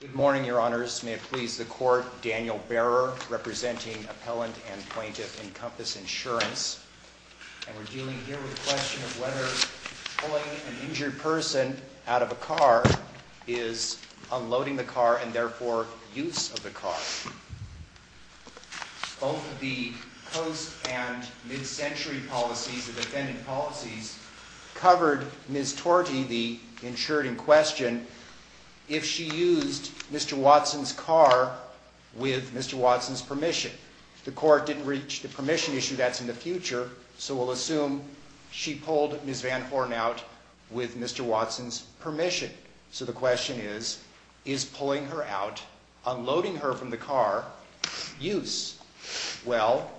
Good morning, Your Honors. May it please the Court, Daniel Behrer, representing Appellant and Plaintiff Encompass Insurance. And we're dealing here with the question of whether pulling an injured person out of a car is unloading the car and therefore use of the car. Both the Coast and Mid-Century policies, the defendant policies, covered Ms. Torte, the insured in question, if she used Mr. Watson's car with Mr. Watson's permission. The Court didn't reach the permission issue, that's in the future, so we'll assume she pulled Ms. Van Horn out with Mr. Watson's permission. So the question is, is pulling her out, unloading her from the car, use? Well,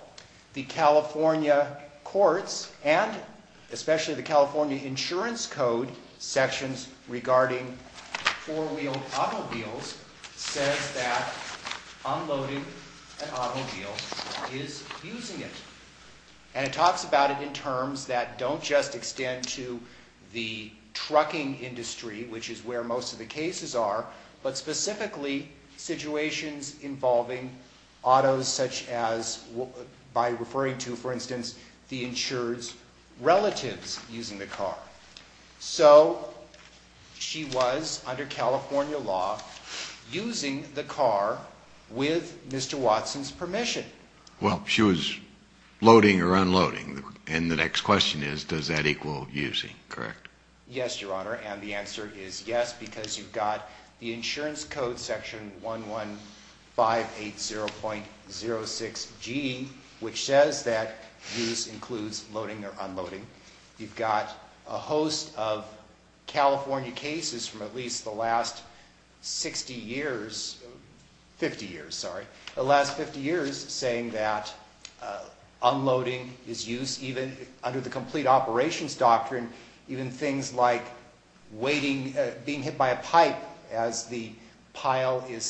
the California Courts and especially the California Insurance Code sections regarding four-wheeled automobiles says that unloading an automobile is using it. And it talks about it in terms that don't just extend to the trucking industry, which is where most of the cases are, but specifically situations involving autos such as, by referring to, for instance, the insured's relatives using the car. So, she was, under California law, using the car with Mr. Watson's permission. Well, she was loading or unloading, and the next question is, does that equal using, correct? Yes, Your Honor, and the answer is yes, because you've got the Insurance Code section 11580.06G, which says that use includes loading or unloading. You've got a host of California cases from at least the last 60 years, 50 years, sorry, the last 50 years saying that unloading is use, even under the complete operations doctrine, even things like waiting, being hit by a pipe as the pile is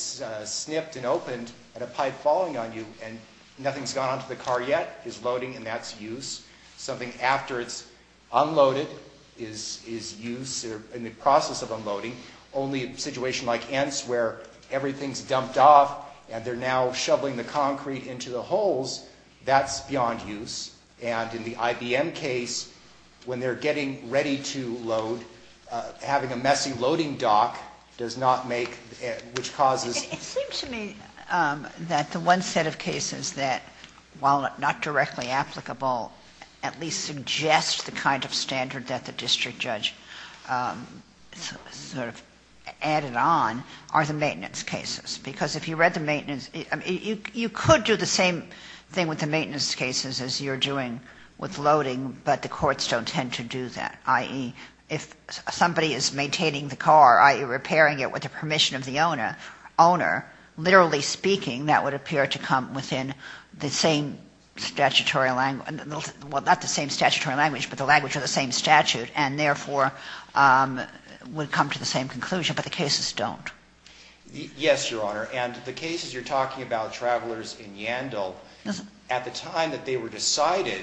snipped and opened and a pipe falling on you and nothing's gone onto the car yet is loading and that's use. Something after it's unloaded is use or in the process of unloading. Only a situation like Ants where everything's dumped off and they're now shoveling the concrete into the holes, that's beyond use. And in the IBM case, when they're getting ready to load, having a messy loading dock does not make, which causes... The one set of cases that, while not directly applicable, at least suggest the kind of standard that the district judge sort of added on are the maintenance cases. Because if you read the maintenance, you could do the same thing with the maintenance cases as you're doing with loading, but the courts don't tend to do that. If somebody is maintaining the car, i.e. repairing it with the permission of the owner, literally speaking, that would appear to come within the same statutory language, well, not the same statutory language, but the language of the same statute and therefore would come to the same conclusion, but the cases don't. Yes, Your Honor, and the cases you're talking about, Travelers in Yandel, at the time that they were decided,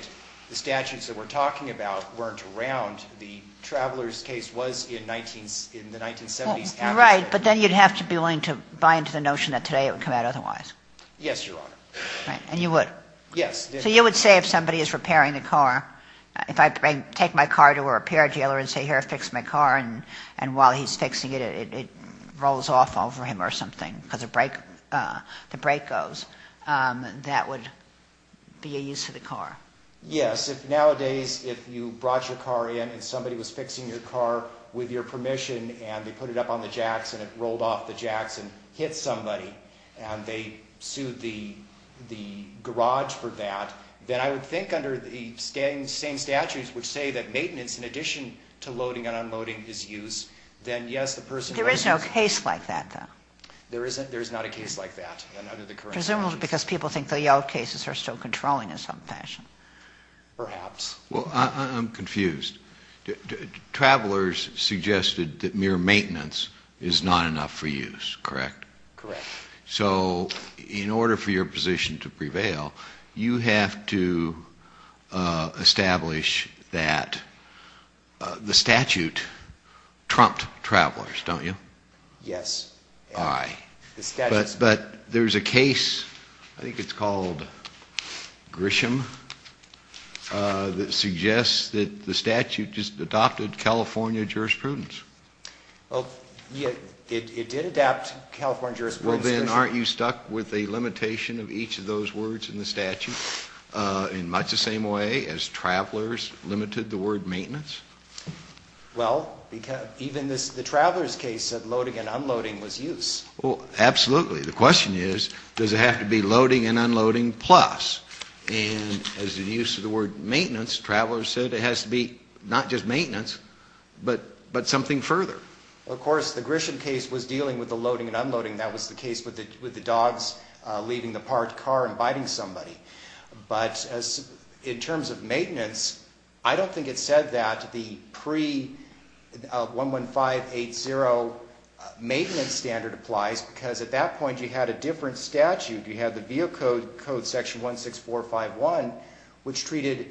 the statutes that we're talking about weren't around. The Travelers case was in the 1970s. Right, but then you'd have to be willing to buy into the notion that today it would come out otherwise. Yes, Your Honor. And you would? Yes. So you would say if somebody is repairing the car, if I take my car to a repair dealer and say, here, fix my car, and while he's fixing it, it rolls off over him or something because the brake goes, that would be a use of the car? Yes. Nowadays, if you brought your car in and somebody was fixing your car with your permission and they put it up on the jacks and it rolled off the jacks and hit somebody and they sued the garage for that, then I would think under the same statutes which say that maintenance in addition to loading and unloading is use, then yes, the person... There is no case like that, though. There is not a case like that. Presumably because people think the Yelp cases are still controlling in some fashion. Perhaps. Well, I'm confused. Travelers suggested that mere maintenance is not enough for use, correct? Correct. So in order for your position to prevail, you have to establish that the statute trumped Travelers, don't you? Yes. Aye. But there's a case, I think it's called Grisham, that suggests that the statute just adopted California jurisprudence. It did adapt California jurisprudence. Well, then, aren't you stuck with a limitation of each of those words in the statute in much the same way as Travelers limited the word maintenance? Well, even the Travelers case said loading and unloading was use. Well, absolutely. The question is, does it have to be loading and unloading plus? And as the use of the word maintenance, Travelers said it has to be not just maintenance but something further. Well, of course, the Grisham case was dealing with the loading and unloading. That was the case with the dogs leaving the parked car and biting somebody. But in terms of maintenance, I don't think it said that the pre-11580 maintenance standard applies because at that point you had a different statute. You had the Vehicle Code Section 16451, which treated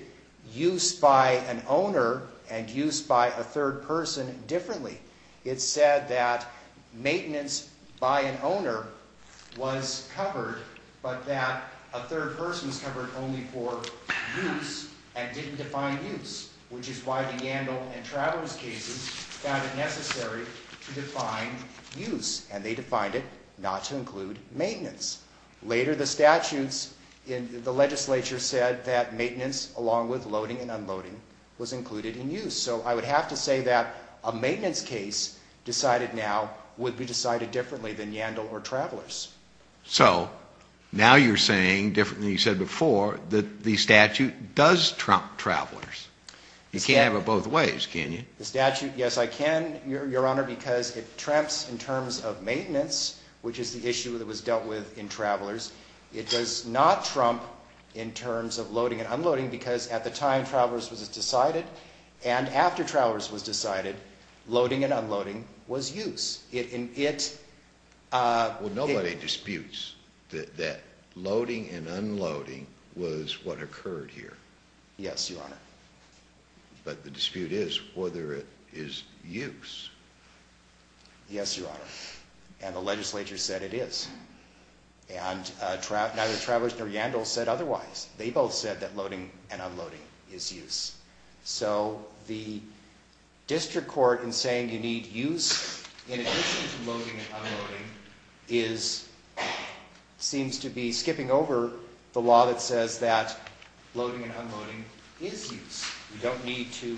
use by an owner and use by a third person differently. It said that maintenance by an owner was covered but that a third person was covered only for use and didn't define use, which is why the Yandel and Travelers cases found it necessary to define use. And they defined it not to include maintenance. Later, the statutes in the legislature said that maintenance along with loading and unloading was included in use. So I would have to say that a maintenance case decided now would be decided differently than Yandel or Travelers. So now you're saying, differently than you said before, that the statute does trump Travelers. You can't have it both ways, can you? The statute, yes, I can, Your Honor, because it trumps in terms of maintenance, which is the issue that was dealt with in Travelers. It does not trump in terms of loading and unloading because at the time Travelers was decided and after Travelers was decided, loading and unloading was use. Well, nobody disputes that loading and unloading was what occurred here. Yes, Your Honor. But the dispute is whether it is use. Yes, Your Honor, and the legislature said it is. And neither Travelers nor Yandel said otherwise. They both said that loading and unloading is use. So the district court in saying you need use in addition to loading and unloading seems to be skipping over the law that says that loading and unloading is use. You don't need to,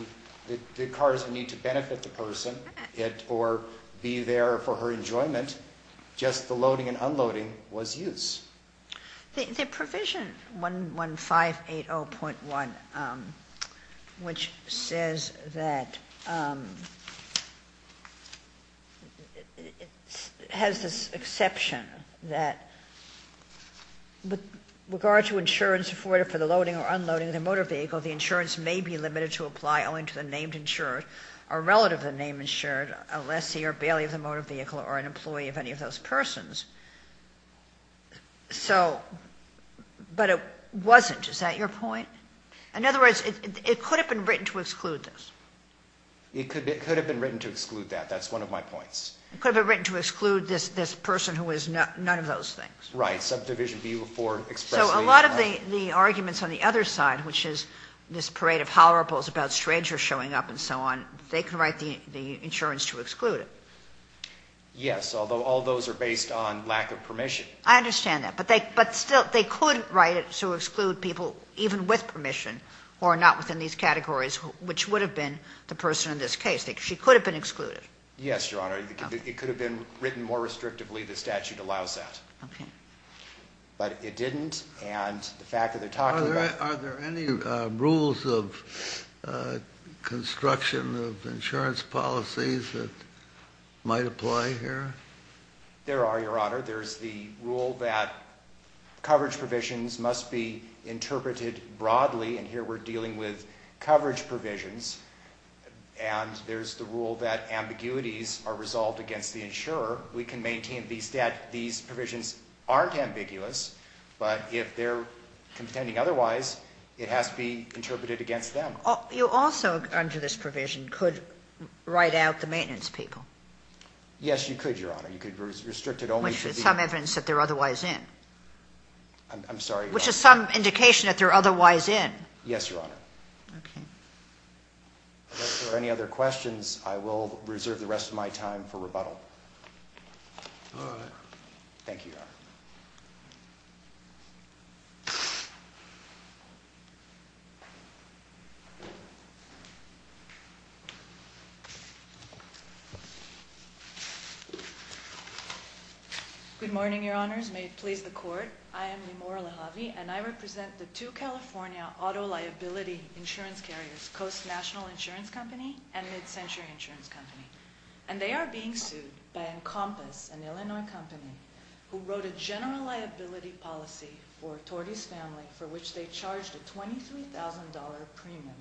the cars need to benefit the person or be there for her enjoyment. Just the loading and unloading was use. The provision 11580.1, which says that it has this exception that with regard to insurance afforded for the loading or unloading of the motor vehicle, the insurance may be limited to apply only to the named insured or relative of the named insured, a lessee or bailey of the motor vehicle or an employee of any of those persons. So, but it wasn't. Is that your point? In other words, it could have been written to exclude this. It could have been written to exclude that. That's one of my points. It could have been written to exclude this person who is none of those things. Right. Subdivision before expressly. So a lot of the arguments on the other side, which is this parade of hollerables about strangers showing up and so on, they can write the insurance to exclude it. Yes, although all those are based on lack of permission. I understand that. But they could write it to exclude people even with permission or not within these categories, which would have been the person in this case. She could have been excluded. Yes, Your Honor. It could have been written more restrictively. The statute allows that. Okay. But it didn't. And the fact that they're talking about. Are there any rules of construction of insurance policies that might apply here? There are, Your Honor. There's the rule that coverage provisions must be interpreted broadly. And here we're dealing with coverage provisions. And there's the rule that ambiguities are resolved against the insurer. We can maintain these provisions aren't ambiguous. But if they're contending otherwise, it has to be interpreted against them. You also, under this provision, could write out the maintenance people. Yes, you could, Your Honor. Which is some evidence that they're otherwise in. I'm sorry. Which is some indication that they're otherwise in. Yes, Your Honor. Okay. If there are any other questions, I will reserve the rest of my time for rebuttal. All right. Thank you, Your Honor. Good morning, Your Honors. May it please the Court. I am Namora Lejave, and I represent the two California auto liability insurance carriers, Coast National Insurance Company and MidCentury Insurance Company. And they are being sued by Encompass, an Illinois company, who wrote a general liability policy for Tordy's family for which they charged a $23,000 premium.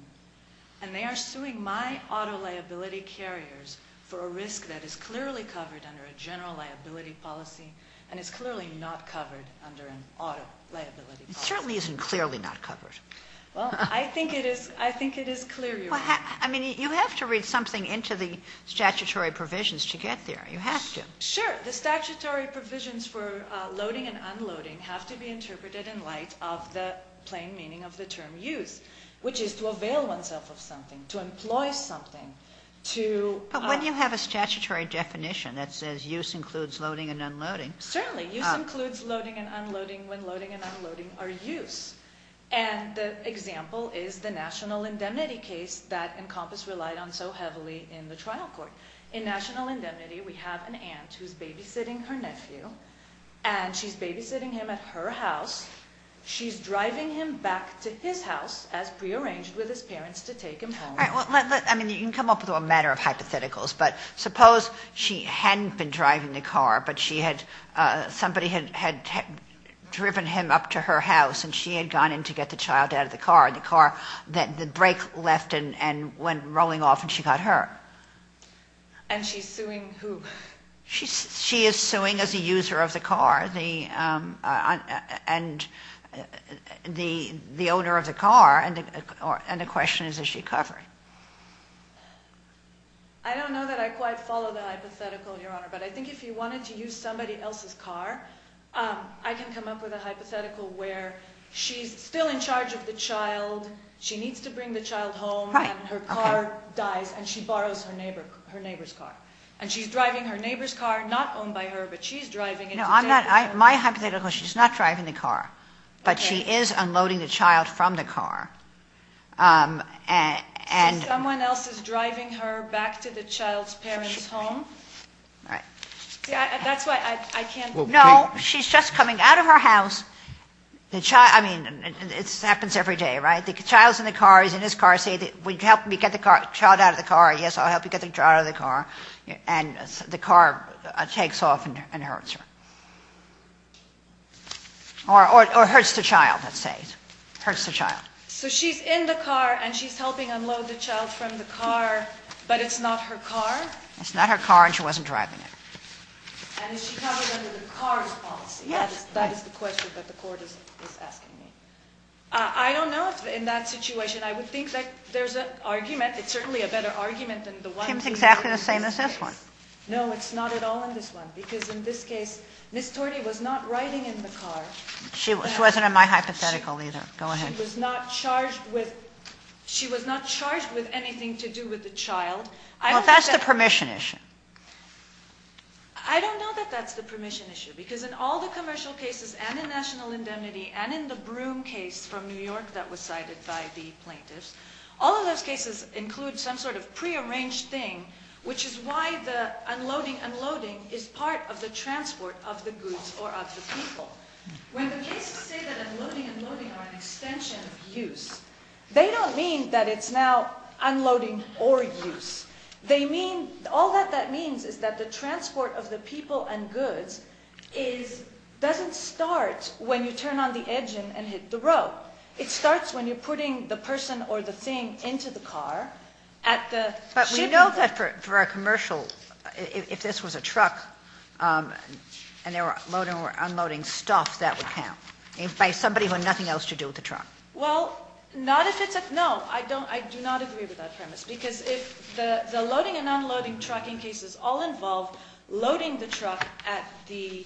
And they are suing my auto liability carriers for a risk that is clearly covered under a general liability policy and is clearly not covered under an auto liability policy. It certainly isn't clearly not covered. Well, I think it is clear, Your Honor. I mean, you have to read something into the statutory provisions to get there. You have to. Sure. The statutory provisions for loading and unloading have to be interpreted in light of the plain meaning of the term used, which is to avail oneself of something, to employ something, to… But when you have a statutory definition that says use includes loading and unloading… Certainly. Use includes loading and unloading when loading and unloading are used. And the example is the national indemnity case that Encompass relied on so heavily in the trial court. In national indemnity, we have an aunt who is babysitting her nephew, and she is babysitting him at her house. She is driving him back to his house as prearranged with his parents to take him home. All right. I mean, you can come up with a matter of hypotheticals, but suppose she hadn't been driving the car, but somebody had driven him up to her house, and she had gone in to get the child out of the car, and the brake left and went rolling off, and she got hurt. And she is suing who? She is suing as a user of the car and the owner of the car, and the question is, is she covered? I don't know that I quite follow the hypothetical, Your Honor, but I think if you wanted to use somebody else's car, I can come up with a hypothetical where she's still in charge of the child, she needs to bring the child home, and her car dies, and she borrows her neighbor's car. And she's driving her neighbor's car, not owned by her, but she's driving it. No, I'm not. My hypothetical is she's not driving the car, but she is unloading the child from the car. So someone else is driving her back to the child's parents' home? Right. See, that's why I can't. No, she's just coming out of her house. I mean, this happens every day, right? The child's in the car, he's in his car. I say, would you help me get the child out of the car? Yes, I'll help you get the child out of the car. And the car takes off and hurts her. Or hurts the child, let's say. Hurts the child. So she's in the car, and she's helping unload the child from the car, but it's not her car? It's not her car, and she wasn't driving it. And is she covered under the car's policy? Yes. That is the question that the Court is asking me. I don't know if in that situation. I would think that there's an argument. It's certainly a better argument than the one in this case. Seems exactly the same as this one. No, it's not at all in this one. Because in this case, Ms. Tordy was not riding in the car. She wasn't in my hypothetical either. Go ahead. She was not charged with anything to do with the child. Well, that's the permission issue. I don't know that that's the permission issue. Because in all the commercial cases, and in National Indemnity, and in the Broome case from New York that was cited by the plaintiffs, all of those cases include some sort of prearranged thing, which is why the unloading, unloading is part of the transport of the goods or of the people. When the cases say that unloading and loading are an extension of use, they don't mean that it's now unloading or use. All that that means is that the transport of the people and goods doesn't start when you turn on the engine and hit the road. It starts when you're putting the person or the thing into the car at the shipping point. But we know that for a commercial, if this was a truck and they were unloading stuff, that would count, by somebody who had nothing else to do with the truck. Well, not if it's a – no, I do not agree with that premise. Because if the loading and unloading trucking cases all involve loading the truck at the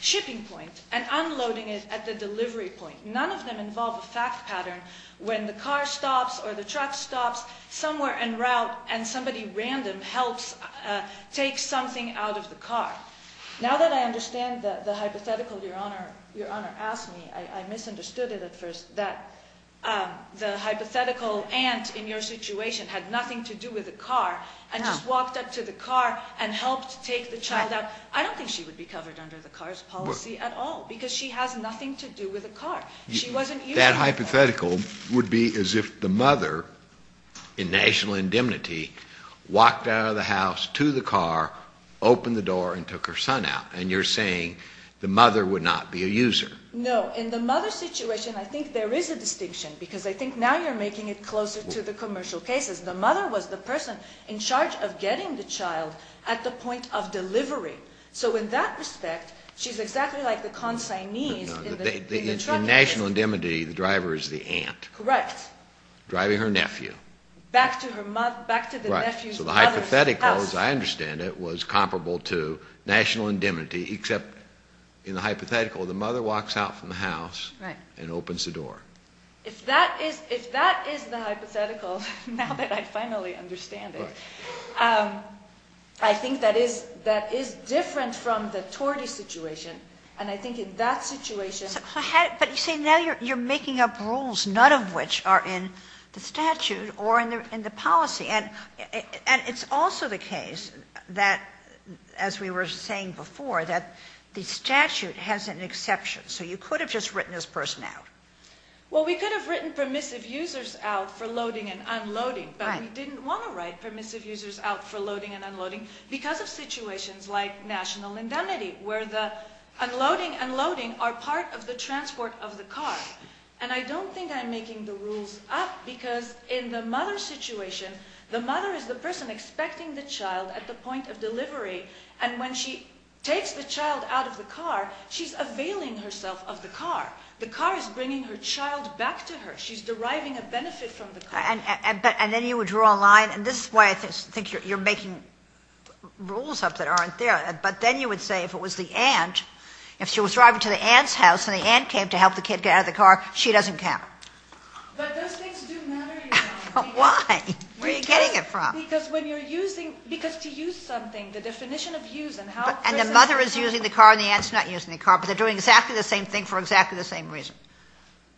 shipping point and unloading it at the delivery point, none of them involve a fact pattern when the car stops or the truck stops somewhere en route and somebody random helps take something out of the car. Now that I understand the hypothetical Your Honor asked me, I misunderstood it at first, that the hypothetical aunt in your situation had nothing to do with the car and just walked up to the car and helped take the child out. I don't think she would be covered under the car's policy at all, because she has nothing to do with the car. She wasn't using the car. That hypothetical would be as if the mother, in national indemnity, walked out of the house to the car, opened the door and took her son out. And you're saying the mother would not be a user. No. In the mother's situation, I think there is a distinction, because I think now you're making it closer to the commercial cases. The mother was the person in charge of getting the child at the point of delivery. So in that respect, she's exactly like the consignee in the truck case. In national indemnity, the driver is the aunt. Driving her nephew. Back to the nephew's mother's house. So the hypothetical, as I understand it, was comparable to national indemnity, except in the hypothetical, the mother walks out from the house and opens the door. If that is the hypothetical, now that I finally understand it, I think that is different from the torte situation. And I think in that situation— But you say now you're making up rules, none of which are in the statute or in the policy. And it's also the case that, as we were saying before, that the statute has an exception. So you could have just written this person out. Well, we could have written permissive users out for loading and unloading, but we didn't want to write permissive users out for loading and unloading because of situations like national indemnity, where the unloading and loading are part of the transport of the car. And I don't think I'm making the rules up, because in the mother's situation, the mother is the person expecting the child at the point of delivery. And when she takes the child out of the car, she's availing herself of the car. The car is bringing her child back to her. She's deriving a benefit from the car. And then you would draw a line. And this is why I think you're making rules up that aren't there. But then you would say if it was the aunt, if she was driving to the aunt's house and the aunt came to help the kid get out of the car, she doesn't count. But those things do matter, Your Honor. Why? Where are you getting it from? Because when you're using – because to use something, the definition of use and how – And the mother is using the car and the aunt's not using the car, but they're doing exactly the same thing for exactly the same reason.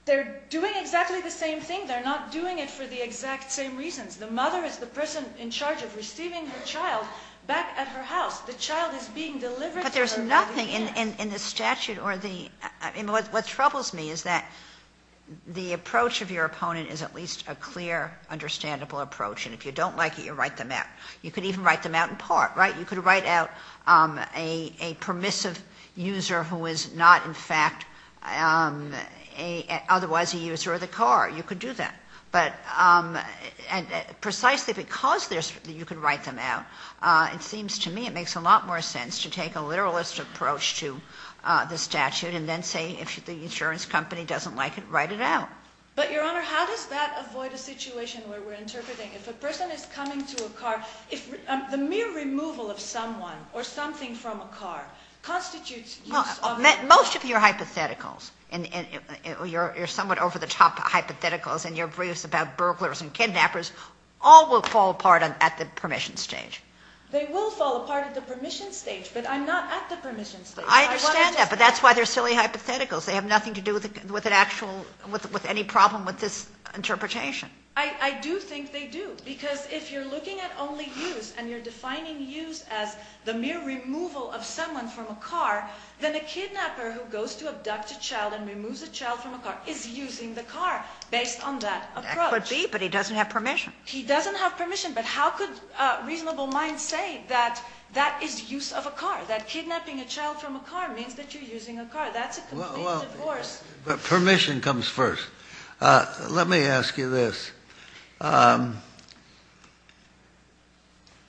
They're doing exactly the same thing. They're not doing it for the exact same reasons. The mother is the person in charge of receiving her child back at her house. The child is being delivered to her by the aunt. But there's nothing in the statute or the – the approach of your opponent is at least a clear, understandable approach. And if you don't like it, you write them out. You could even write them out in part, right? You could write out a permissive user who is not, in fact, otherwise a user of the car. You could do that. But – and precisely because you could write them out, it seems to me it makes a lot more sense to take a literalist approach to the statute and then say if the insurance company doesn't like it, write it out. But, Your Honor, how does that avoid a situation where we're interpreting if a person is coming to a car – if the mere removal of someone or something from a car constitutes use of the car? Most of your hypotheticals – your somewhat over-the-top hypotheticals and your briefs about burglars and kidnappers all will fall apart at the permission stage. They will fall apart at the permission stage, but I'm not at the permission stage. I understand that, but that's why they're silly hypotheticals. They have nothing to do with an actual – with any problem with this interpretation. I do think they do because if you're looking at only use and you're defining use as the mere removal of someone from a car, then a kidnapper who goes to abduct a child and removes a child from a car is using the car based on that approach. That could be, but he doesn't have permission. He doesn't have permission, but how could reasonable minds say that that is use of a car, that kidnapping a child from a car means that you're using a car? That's a complete divorce. Permission comes first. Let me ask you this.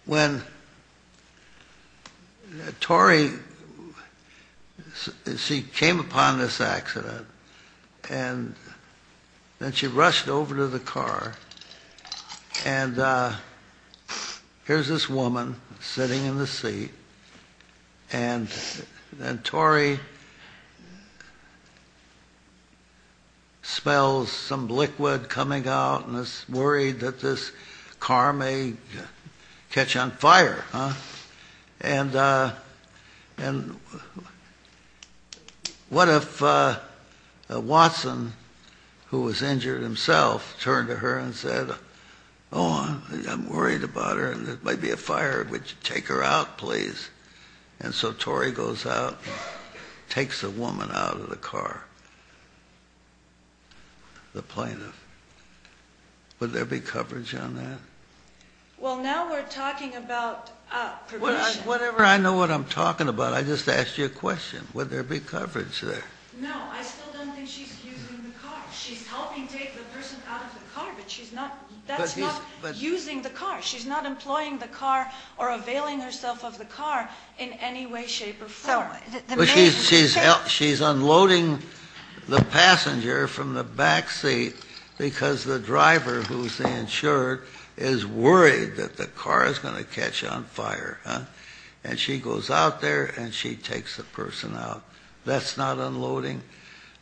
When Tori – she came upon this accident and then she rushed over to the car and here's this woman sitting in the seat and Tori smells some liquid coming out and is worried that this car may catch on fire. And what if Watson, who was injured himself, turned to her and said, oh, I'm worried about her and there might be a fire. Would you take her out, please? And so Tori goes out and takes the woman out of the car, the plaintiff. Would there be coverage on that? Well, now we're talking about permission. Whenever I know what I'm talking about, I just ask you a question. Would there be coverage there? No, I still don't think she's using the car. She's helping take the person out of the car, but that's not using the car. She's not employing the car or availing herself of the car in any way, shape, or form. But she's unloading the passenger from the back seat because the driver, who's the insured, is worried that the car is going to catch on fire. And she goes out there and she takes the person out. That's not unloading.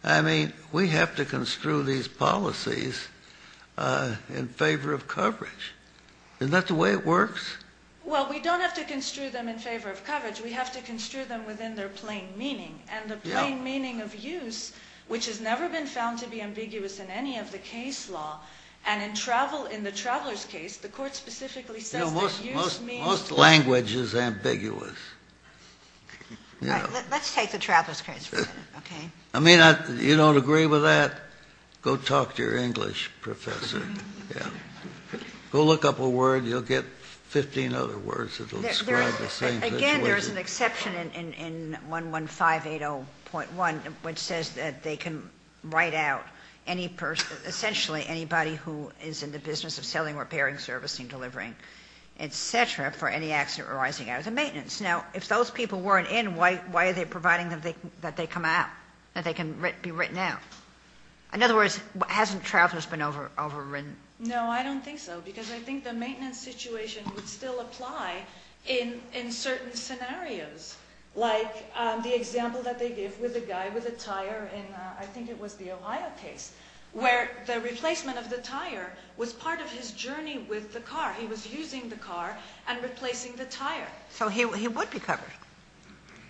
I mean, we have to construe these policies in favor of coverage. Isn't that the way it works? Well, we don't have to construe them in favor of coverage. We have to construe them within their plain meaning. And the plain meaning of use, which has never been found to be ambiguous in any of the case law, and in the traveler's case, the court specifically says that use means... Most language is ambiguous. Let's take the traveler's case for a minute, okay? I mean, you don't agree with that? Go talk to your English professor. Go look up a word. You'll get 15 other words that will describe the same thing. Again, there's an exception in 11580.1, which says that they can write out any person, essentially anybody who is in the business of selling, repairing, servicing, delivering, etc., for any accident arising out of the maintenance. Now, if those people weren't in, why are they providing that they come out, that they can be written out? In other words, hasn't traveler's been overwritten? No, I don't think so, because I think the maintenance situation would still apply in certain scenarios, like the example that they give with the guy with the tire in, I think it was the Ohio case, where the replacement of the tire was part of his journey with the car. He was using the car and replacing the tire. So he would be covered?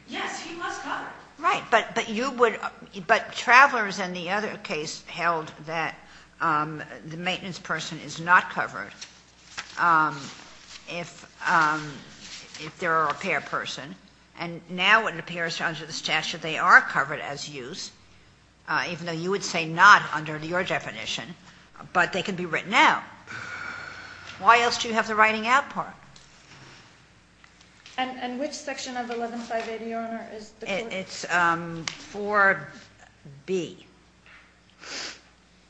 Yes, he was covered. Right. But travelers in the other case held that the maintenance person is not covered if they're a repair person, and now it appears under the statute they are covered as used, even though you would say not under your definition, but they can be written out. Why else do you have the writing out part? And which section of the 11-580, Your Honor, is the- It's 4B.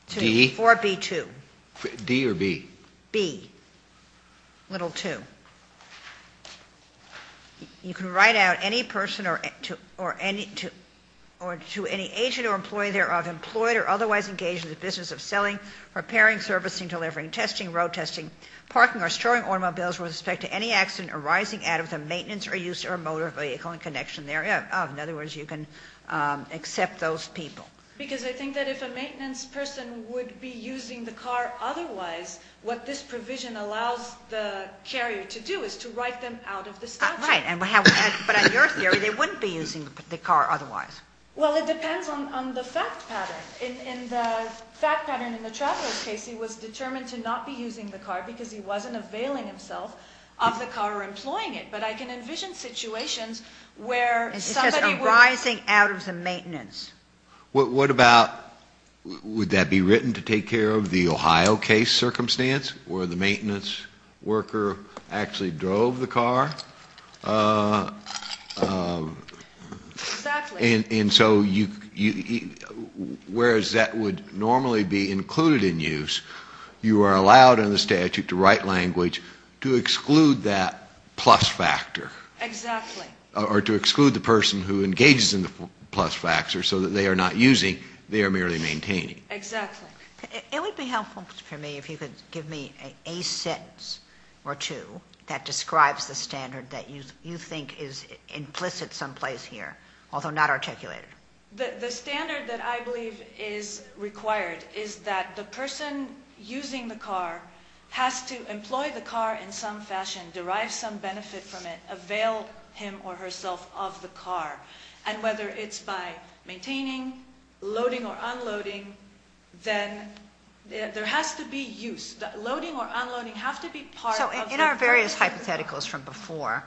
D? 4B-2. D or B? B. Little 2. You can write out any person or to any agent or employee thereof employed or otherwise engaged in the business of selling, repairing, servicing, delivering, testing, road testing, parking or storing automobiles with respect to any accident arising out of the maintenance or use of a motor vehicle in connection thereof. In other words, you can accept those people. Because I think that if a maintenance person would be using the car otherwise, what this provision allows the carrier to do is to write them out of the statute. Right. But in your theory, they wouldn't be using the car otherwise. Well, it depends on the fact pattern. In the fact pattern in the Travelers case, he was determined to not be using the car because he wasn't availing himself of the car or employing it. But I can envision situations where somebody would- It says arising out of the maintenance. What about would that be written to take care of the Ohio case circumstance where the maintenance worker actually drove the car? Exactly. And so whereas that would normally be included in use, you are allowed under the statute to write language to exclude that plus factor. Exactly. Or to exclude the person who engages in the plus factor so that they are not using, they are merely maintaining. Exactly. It would be helpful for me if you could give me a sentence or two that describes the standard that you think is implicit someplace here, although not articulated. The standard that I believe is required is that the person using the car has to employ the car in some fashion, derive some benefit from it, avail him or herself of the car. And whether it's by maintaining, loading or unloading, then there has to be use. So in our various hypotheticals from before,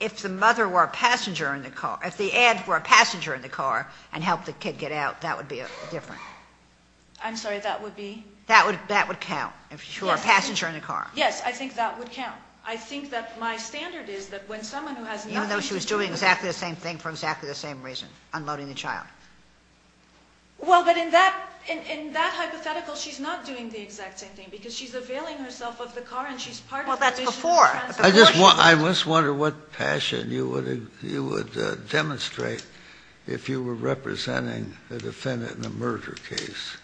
if the mother were a passenger in the car, if the aunt were a passenger in the car and helped the kid get out, that would be different. I'm sorry. That would be? That would count if she were a passenger in the car. Yes. I think that would count. I think that my standard is that when someone who has nothing to do- Even though she was doing exactly the same thing for exactly the same reason, unloading the child. Well, but in that hypothetical, she's not doing the exact same thing because she's availing herself of the car and she's part- Well, that's before. I just wonder what passion you would demonstrate if you were representing a defendant in a murder case.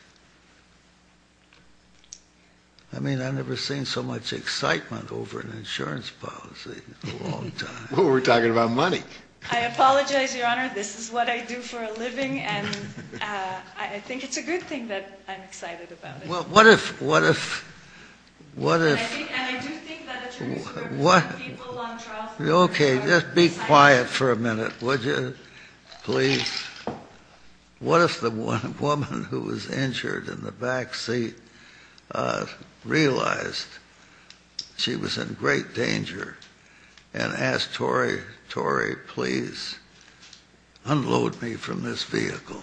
I mean, I've never seen so much excitement over an insurance policy in a long time. Well, we're talking about money. I apologize, Your Honor. This is what I do for a living, and I think it's a good thing that I'm excited about it. Well, what if, what if, what if- And I do think that it's important for people on trial- Okay, just be quiet for a minute, would you, please? What if the woman who was injured in the back seat realized she was in great danger and asked Torrey, Torrey, please unload me from this vehicle?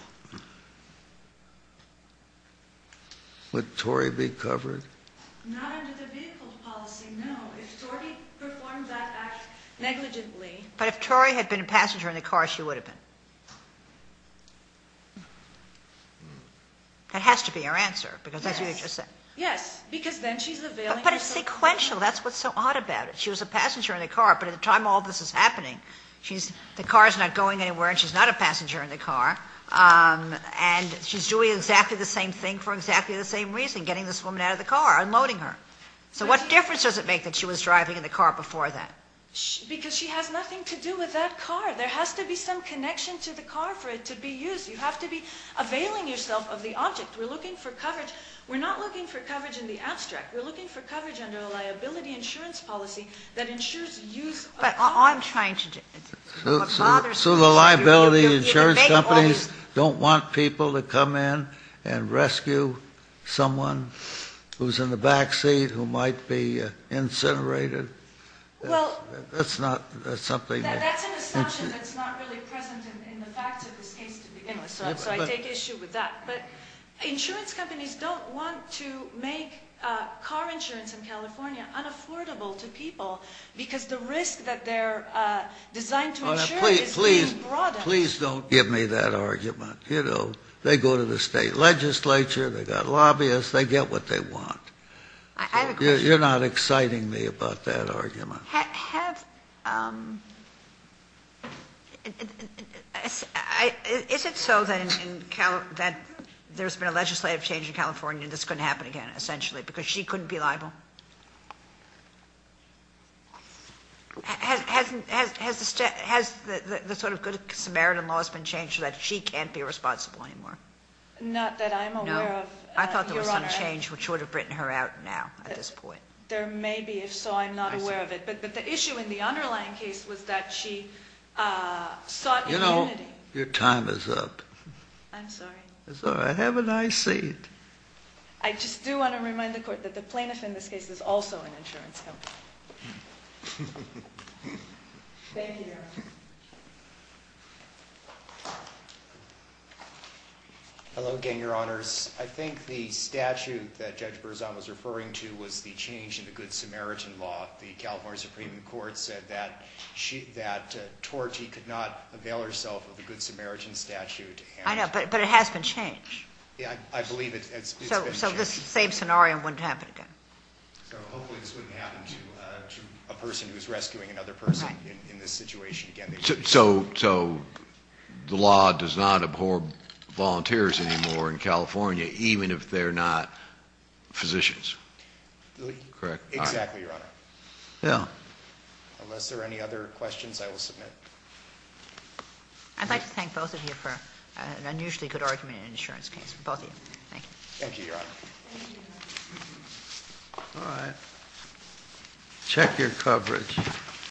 Would Torrey be covered? Not under the vehicle policy, no. If Torrey performed that act negligently- But if Torrey had been a passenger in the car, she would have been. That has to be her answer, because that's what you just said. Yes, because then she's availing herself- But it's sequential. That's what's so odd about it. She was a passenger in the car, but at the time all this is happening, the car's not going anywhere and she's not a passenger in the car, and she's doing exactly the same thing for exactly the same reason, getting this woman out of the car, unloading her. So what difference does it make that she was driving in the car before that? Because she has nothing to do with that car. There has to be some connection to the car for it to be used. You have to be availing yourself of the object. We're looking for coverage. We're not looking for coverage in the abstract. We're looking for coverage under a liability insurance policy that ensures use- But I'm trying to- So the liability insurance companies don't want people to come in and rescue someone who's in the back seat who might be incinerated? Well- That's not something- That's an assumption that's not really present in the facts of this case to begin with, so I take issue with that. But insurance companies don't want to make car insurance in California unaffordable to people because the risk that they're designed to insure is being broadened. Please don't give me that argument. They go to the state legislature, they've got lobbyists, they get what they want. I have a question. You're not exciting me about that argument. Is it so that there's been a legislative change in California and this couldn't happen again essentially because she couldn't be liable? Has the sort of good Samaritan laws been changed so that she can't be responsible anymore? Not that I'm aware of, Your Honor. I thought there was some change which would have written her out now at this point. There may be. If so, I'm not aware of it. But the issue in the underlying case was that she sought immunity. You know, your time is up. I'm sorry. It's all right. Have a nice seat. I just do want to remind the Court that the plaintiff in this case is also an insurance company. Thank you, Your Honor. Hello again, Your Honors. I think the statute that Judge Berzon was referring to was the change in the good Samaritan law. The California Supreme Court said that Torte could not avail herself of the good Samaritan statute. I know, but it has been changed. Yeah, I believe it's been changed. So this same scenario wouldn't happen again. So hopefully this wouldn't happen to a person who's rescuing another person in this situation again. So the law does not abhor volunteers anymore in California, even if they're not physicians? Correct. Exactly, Your Honor. Yeah. Unless there are any other questions, I will submit. I'd like to thank both of you for an unusually good argument in an insurance case. Both of you. Thank you. Thank you, Your Honor. All right. Check your coverage.